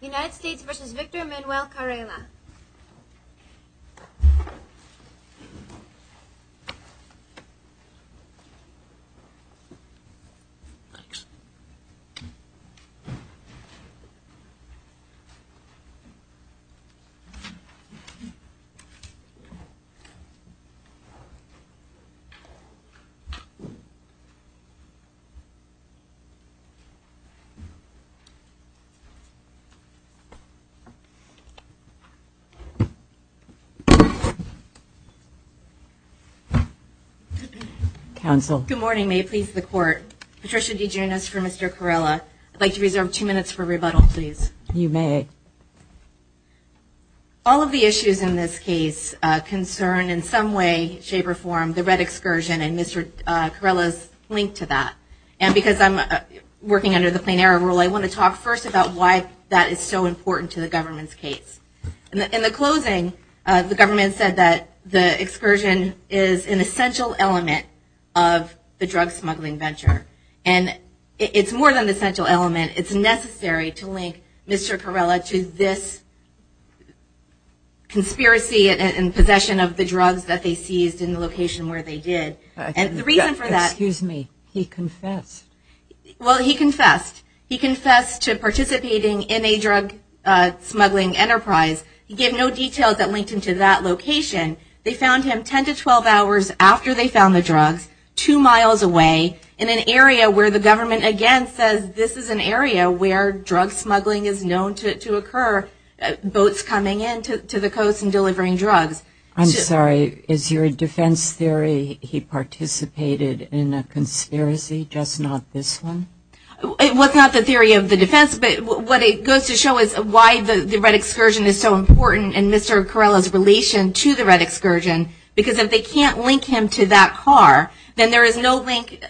United States v. Victor Emanuel Carela Good morning. May it please the court. Patricia DeGiunas for Mr. Carela. I'd like to reserve two minutes for rebuttal, please. You may. All of the issues in this case concern, in some way, shape, or form, the red excursion and Mr. Carela's link to that. And because I'm working under the plenary rule, I want to talk first about why that is so important to the government's case. In the closing, the government said that the excursion is an essential element of the drug smuggling venture. And it's more than an essential element. It's necessary to link Mr. Carela to this conspiracy and possession of the drugs that they seized in the location where they did. And the reason for that- Excuse me. He confessed. Well, he confessed. He confessed to participating in a drug smuggling enterprise. He gave no details that linked him to that location. They found him 10 to 12 hours after they found the drugs, two miles away, in an area where the government, again, says this is an area where drug smuggling is known to occur, boats coming in to the coast and delivering drugs. I'm sorry. Is your defense theory he participated in a conspiracy, just not this one? It was not the theory of the defense, but what it goes to show is why the red excursion is so important in Mr. Carela's relation to the red excursion. Because if they can't link him to that car, then there is no link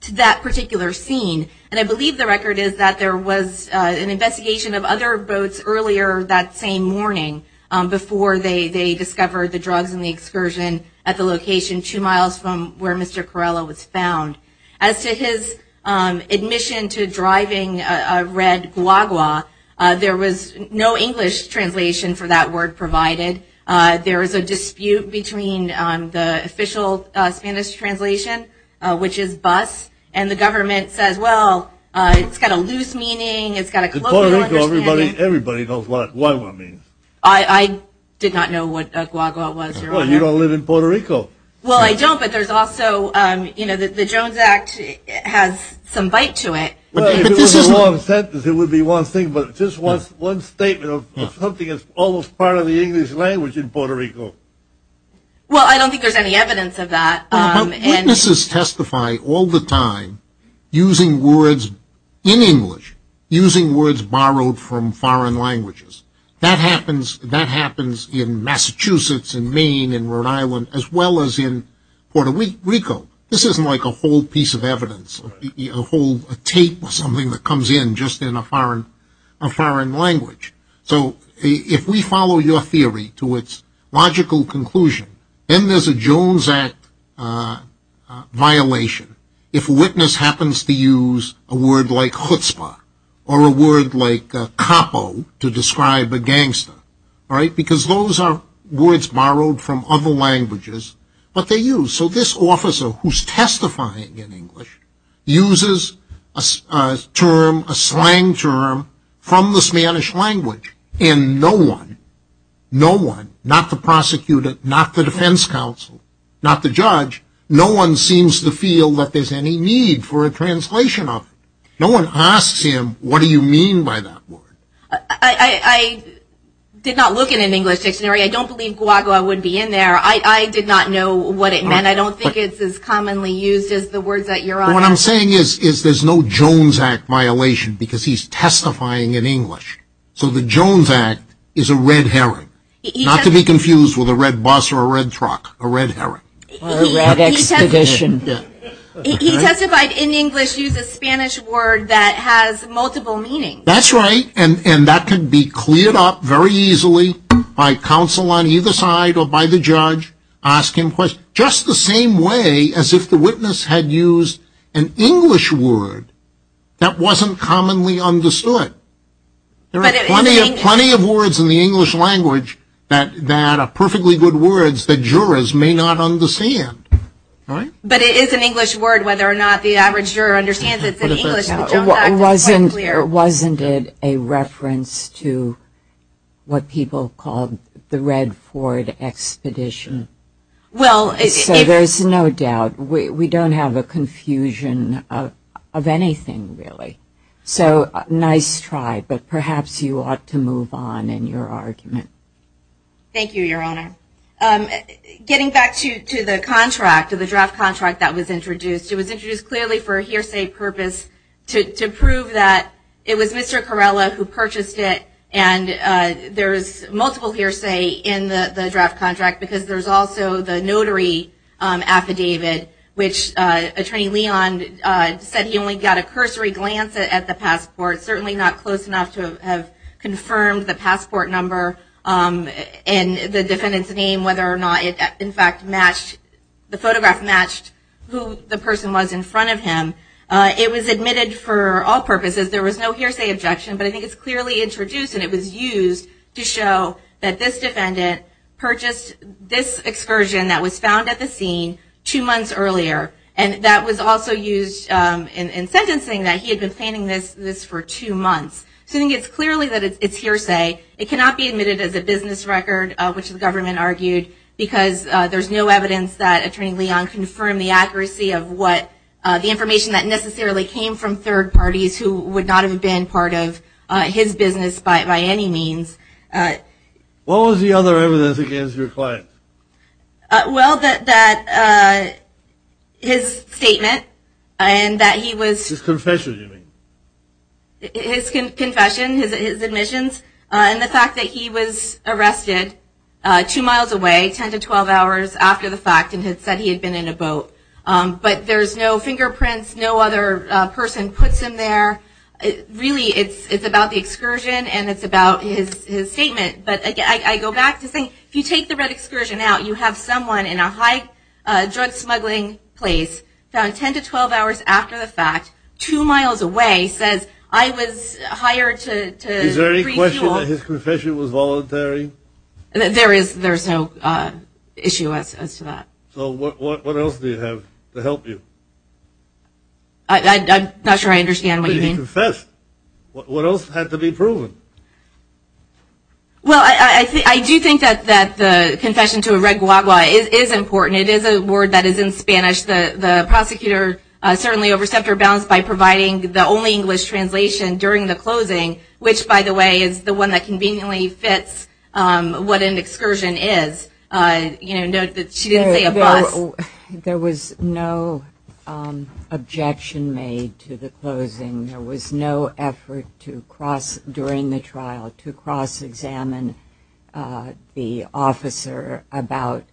to that particular scene. And I believe the record is that there was an investigation of other boats earlier that same morning before they discovered the drugs and the excursion at the location two miles from where Mr. Carela was found. As to his admission to driving a red guagua, there was no English translation for that word provided. There was a dispute between the official Spanish translation, which is bus, and the government says, well, it's got a loose meaning, it's got a closed In Puerto Rico, everybody knows what guagua means. I did not know what guagua was, Your Honor. Well, you don't live in Puerto Rico. Well, I don't, but there's also, you know, the Jones Act has some bite to it. Well, if it was a long sentence, it would be one thing, but it's just one statement of something that's almost part of the English language in Puerto Rico. Well, I don't think there's any evidence of that. Well, witnesses testify all the time using words in English, using words borrowed from foreign languages. That happens in Massachusetts and Maine and Rhode Island as well as in Puerto Rico. This isn't like a whole piece of evidence, a whole tape or something that comes in just in a foreign language. So, if we follow your theory to its logical conclusion, then there's a Jones Act violation if a witness happens to use a word like chutzpah or a word like capo to describe a gangster, right, because those are words borrowed from other languages, but they're used. So, this officer who's testifying in English uses a term, a slang term, from the Spanish language and no one, no one, not the prosecutor, not the defense counsel, not the judge, no one seems to feel that there's any need for a translation of it. No one asks him, what do you mean by that word? I did not look at an English dictionary. I don't believe guagua would be in there. I did not know what it meant. I don't think it's as commonly used as the words that you're on. What I'm saying is there's no Jones Act violation because he's testifying in English. So, the Jones Act is a red herring, not to be confused with a red bus or a red truck, a red herring. He testified in English, used a Spanish word that has multiple meanings. That's right, and that can be cleared up very easily by counsel on either side or by the judge asking questions, just the same way as if the witness had used an English word that wasn't commonly understood. There are plenty of words in the English language that are perfectly good words that jurors may not understand, right? But it is an English word, whether or not the average juror understands it, it's in English, the Jones Act is quite clear. Wasn't it a reference to what people called the Red Ford Expedition? So, there's no doubt. We don't have a confusion of anything, really. So, nice try, but perhaps you ought to move on in your argument. Thank you, Your Honor. Getting back to the contract, to the draft contract that was introduced, it was introduced clearly for a hearsay purpose to prove that it was Mr. Corella who purchased it, and there's multiple hearsay in the draft contract because there's also the notary affidavit which Attorney Leon said he only got a cursory glance at the passport, certainly not close enough to have confirmed the passport number and the defendant's name, whether or not it in fact matched, the photograph matched who the person was in front of him. It was admitted for all purposes. There was no hearsay objection, but I think it's clearly introduced and it was used to show that this defendant purchased this excursion that was found at the scene two months earlier, and that was also used in sentencing that he had been planning this for two months. So, I think it's clearly that it's hearsay. It cannot be admitted as a business record, which the government argued, because there's no evidence that Attorney Leon confirmed the accuracy of what the information that necessarily came from third parties who would not have been part of his business by any means. What was the other evidence against your client? Well, that his statement and that he was... His confession, you mean? His confession, his admissions, and the fact that he was arrested two miles away, ten to twelve hours after the fact, and had said he had been in a boat. But there's no fingerprints, no other person puts him there. Really, it's about the excursion, and it's about his statement. But I go back to saying, if you take the red excursion out, you have someone in a high drug smuggling place, found ten to twelve hours after the fact, two miles away, says, I was hired to refuel. Is there any question that his confession was voluntary? There is no issue as to that. So what else do you have to help you? I'm not sure I understand what you mean. But he confessed. What else had to be proven? Well, I do think that the confession to a red guagua is important. It is a word that is in Spanish. The prosecutor certainly overstepped her bounds by providing the only English translation during the closing, which, by the way, is the one that conveniently fits what an excursion is. She didn't say a bus. There was no objection made to the closing. There was no effort during the trial to cross-examine the officer about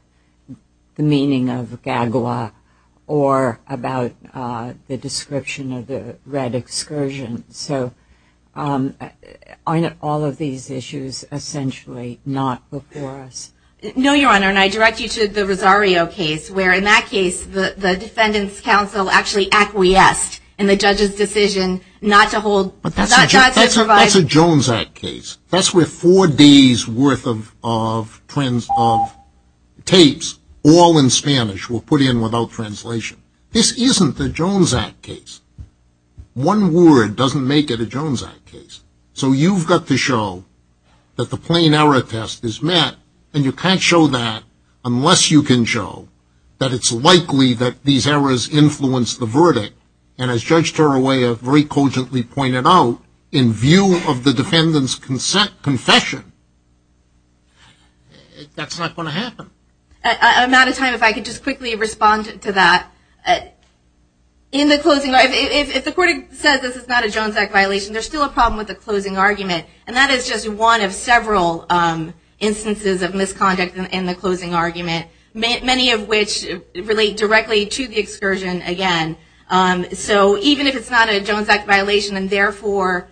the meaning of guagua or about the description of the red excursion. So aren't all of these issues essentially not before us? No, Your Honor, and I direct you to the Rosario case, where in that case the defendant's counsel actually acquiesced in the judge's decision not to hold, not to provide. But that's a Jones Act case. That's worth four days' worth of tapes, all in Spanish, were put in without translation. This isn't the Jones Act case. One word doesn't make it a Jones Act case. So you've got to show that the plain error test is met, and you can't show that unless you can show that it's likely that these errors influenced the verdict. And as Judge Torrollaia very cogently pointed out, in view of the defendant's confession, that's not going to happen. I'm out of time. If I could just quickly respond to that. If the court says this is not a Jones Act violation, there's still a problem with the closing argument. And that is just one of several instances of misconduct in the closing argument, many of which relate directly to the excursion, again. So even if it's not a Jones Act violation, and therefore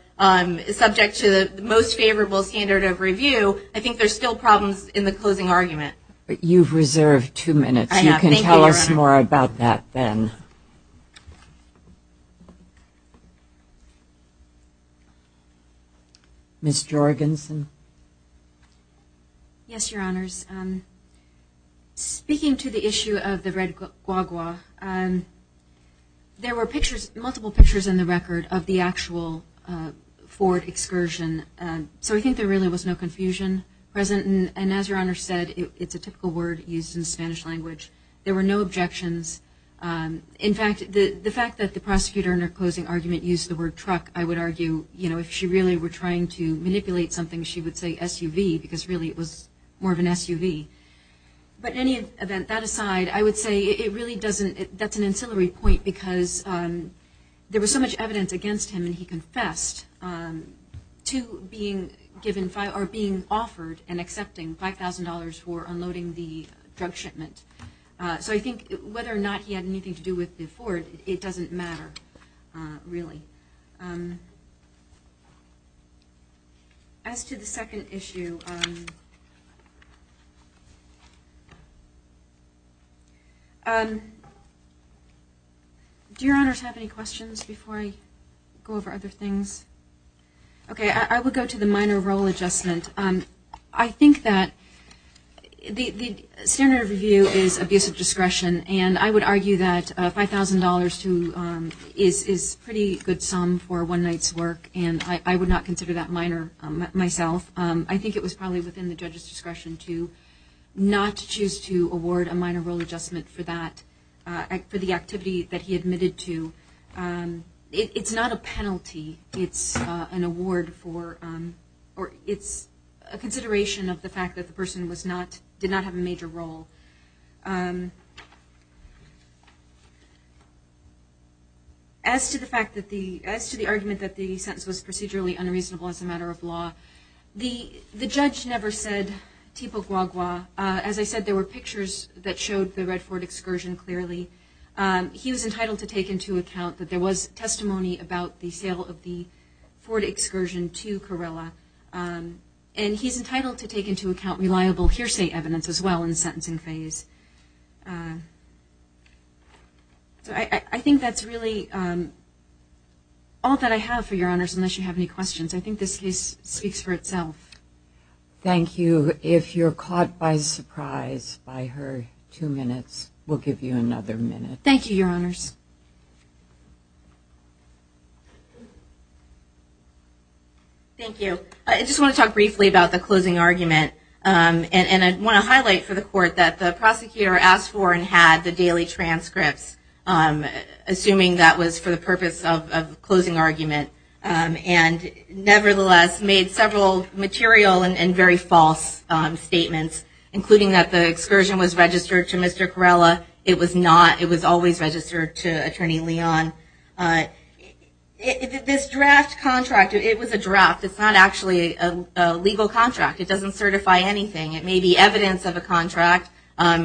subject to the most favorable standard of review, I think there's still problems in the closing argument. You've reserved two minutes. You can tell us more about that then. Ms. Jorgensen. Yes, Your Honors. Speaking to the issue of the red guagua, there were multiple pictures in the record of the actual Ford excursion. So I think there really was no confusion present. And as Your Honor said, it's a typical word used in Spanish language. There were no objections. In fact, the fact that the prosecutor in her closing argument used the word truck, I would argue if she really were trying to manipulate something, she would say SUV, because really it was more of an SUV. But in any event, that aside, I would say that's an ancillary point because there was so much evidence against him, and he confessed to being offered an exemption, $5,000 for unloading the drug shipment. So I think whether or not he had anything to do with the Ford, it doesn't matter, really. As to the second issue, do Your Honors have any questions before I go over other things? Okay, I will go to the minor role adjustment. I think that the standard of review is abuse of discretion, and I would argue that $5,000 is a pretty good sum for one night's work, and I would not consider that minor myself. I think it was probably within the judge's discretion to not choose to award a minor role adjustment for that, for the activity that he admitted to. It's not a penalty, it's an award for, or it's a consideration of the fact that the person did not have a major role. As to the fact that the, as to the argument that the sentence was procedurally unreasonable as a matter of law, the judge never said tipo guagua. As I said, there were pictures that he was entitled to take into account that there was testimony about the sale of the Ford excursion to Carrillo, and he's entitled to take into account reliable hearsay evidence as well in the sentencing phase. So I think that's really all that I have for Your Honors unless you have any questions. I think this case speaks for itself. Thank you. If you're caught by surprise by her two minutes, we'll give you another minute. Thank you, Your Honors. Thank you. I just want to talk briefly about the closing argument, and I want to highlight for the Court that the prosecutor asked for and had the daily transcripts, assuming that was for the purpose of closing argument, and nevertheless made several material and very false statements, including that the excursion was registered to Mr. Carrillo. It was not. It was always registered to Attorney Leon. This draft contract, it was a draft. It's not actually a legal contract. It doesn't certify anything. It may be evidence of a contract. I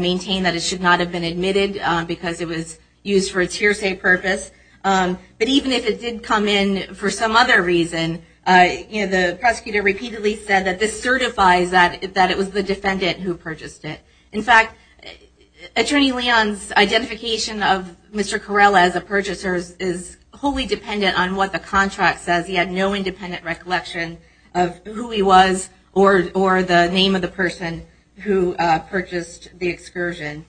maintain that it should not have been admitted because it was used for its hearsay purpose. But even if it did come in for some other reason, the prosecutor repeatedly said that this certifies that it was the defendant who purchased it. In fact, Attorney Leon's identification of Mr. Carrillo as a purchaser is wholly dependent on what the contract says. He had no independent recollection of who he was or the name of the person who purchased the excursion.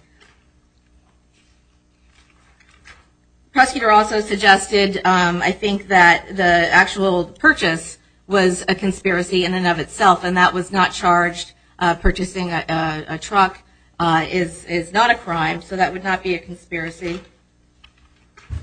The prosecutor also suggested, I think, that the actual purchase was a conspiracy in and of itself. It's not a crime, so that would not be a conspiracy.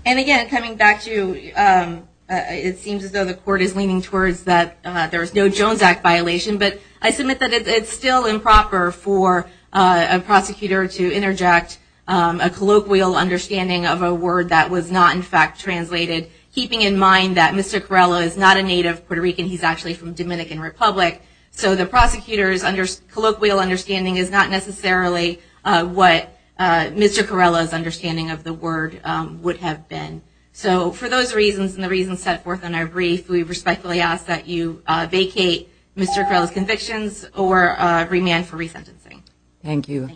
And again, coming back to, it seems as though the court is leaning towards that there's no Jones Act violation, but I submit that it's still improper for a prosecutor to interject a colloquial understanding of a word that was not, in fact, translated, keeping in mind that Mr. Carrillo is not a native Puerto Rican. He's actually from Dominican Republic. So the prosecutor's colloquial understanding is not necessarily what Mr. Carrillo's understanding of the word would have been. So for those reasons and the reasons set forth in our brief, we respectfully ask that you vacate Mr. Carrillo's convictions or remand for resentencing. Thank you.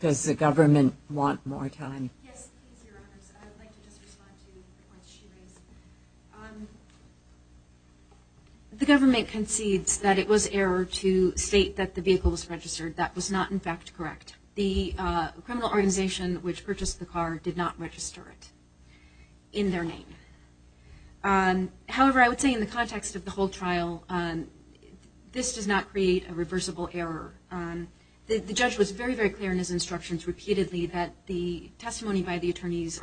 Does the government want more time? Yes, please, Your Honors. I would like to just respond to what she raised. The government concedes that it was error to state that the vehicle was registered. That was not, in fact, correct. The criminal organization which purchased the car did not register it in their name. However, I would say in the context of the whole trial, this does not create a reversible error. The judge was very, very clear in his instructions repeatedly that the arguments by the attorneys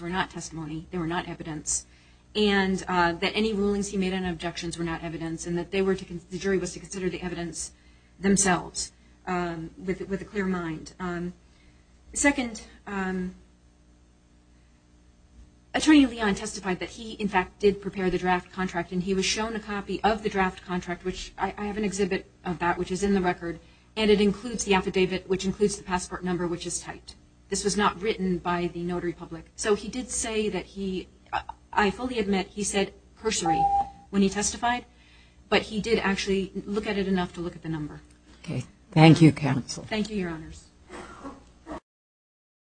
were not testimony. They were not evidence. And that any rulings he made and objections were not evidence. And that the jury was to consider the evidence themselves with a clear mind. Second, Attorney Leon testified that he, in fact, did prepare the draft contract. And he was shown a copy of the draft contract, which I have an exhibit of that, which is in the record. And it includes the affidavit, which includes the passport number, which is typed. This was not written by the notary public. So he did say that he, I fully admit, he said cursory when he testified. But he did actually look at it enough to look at the number. Thank you, Counsel. Thank you, Your Honors.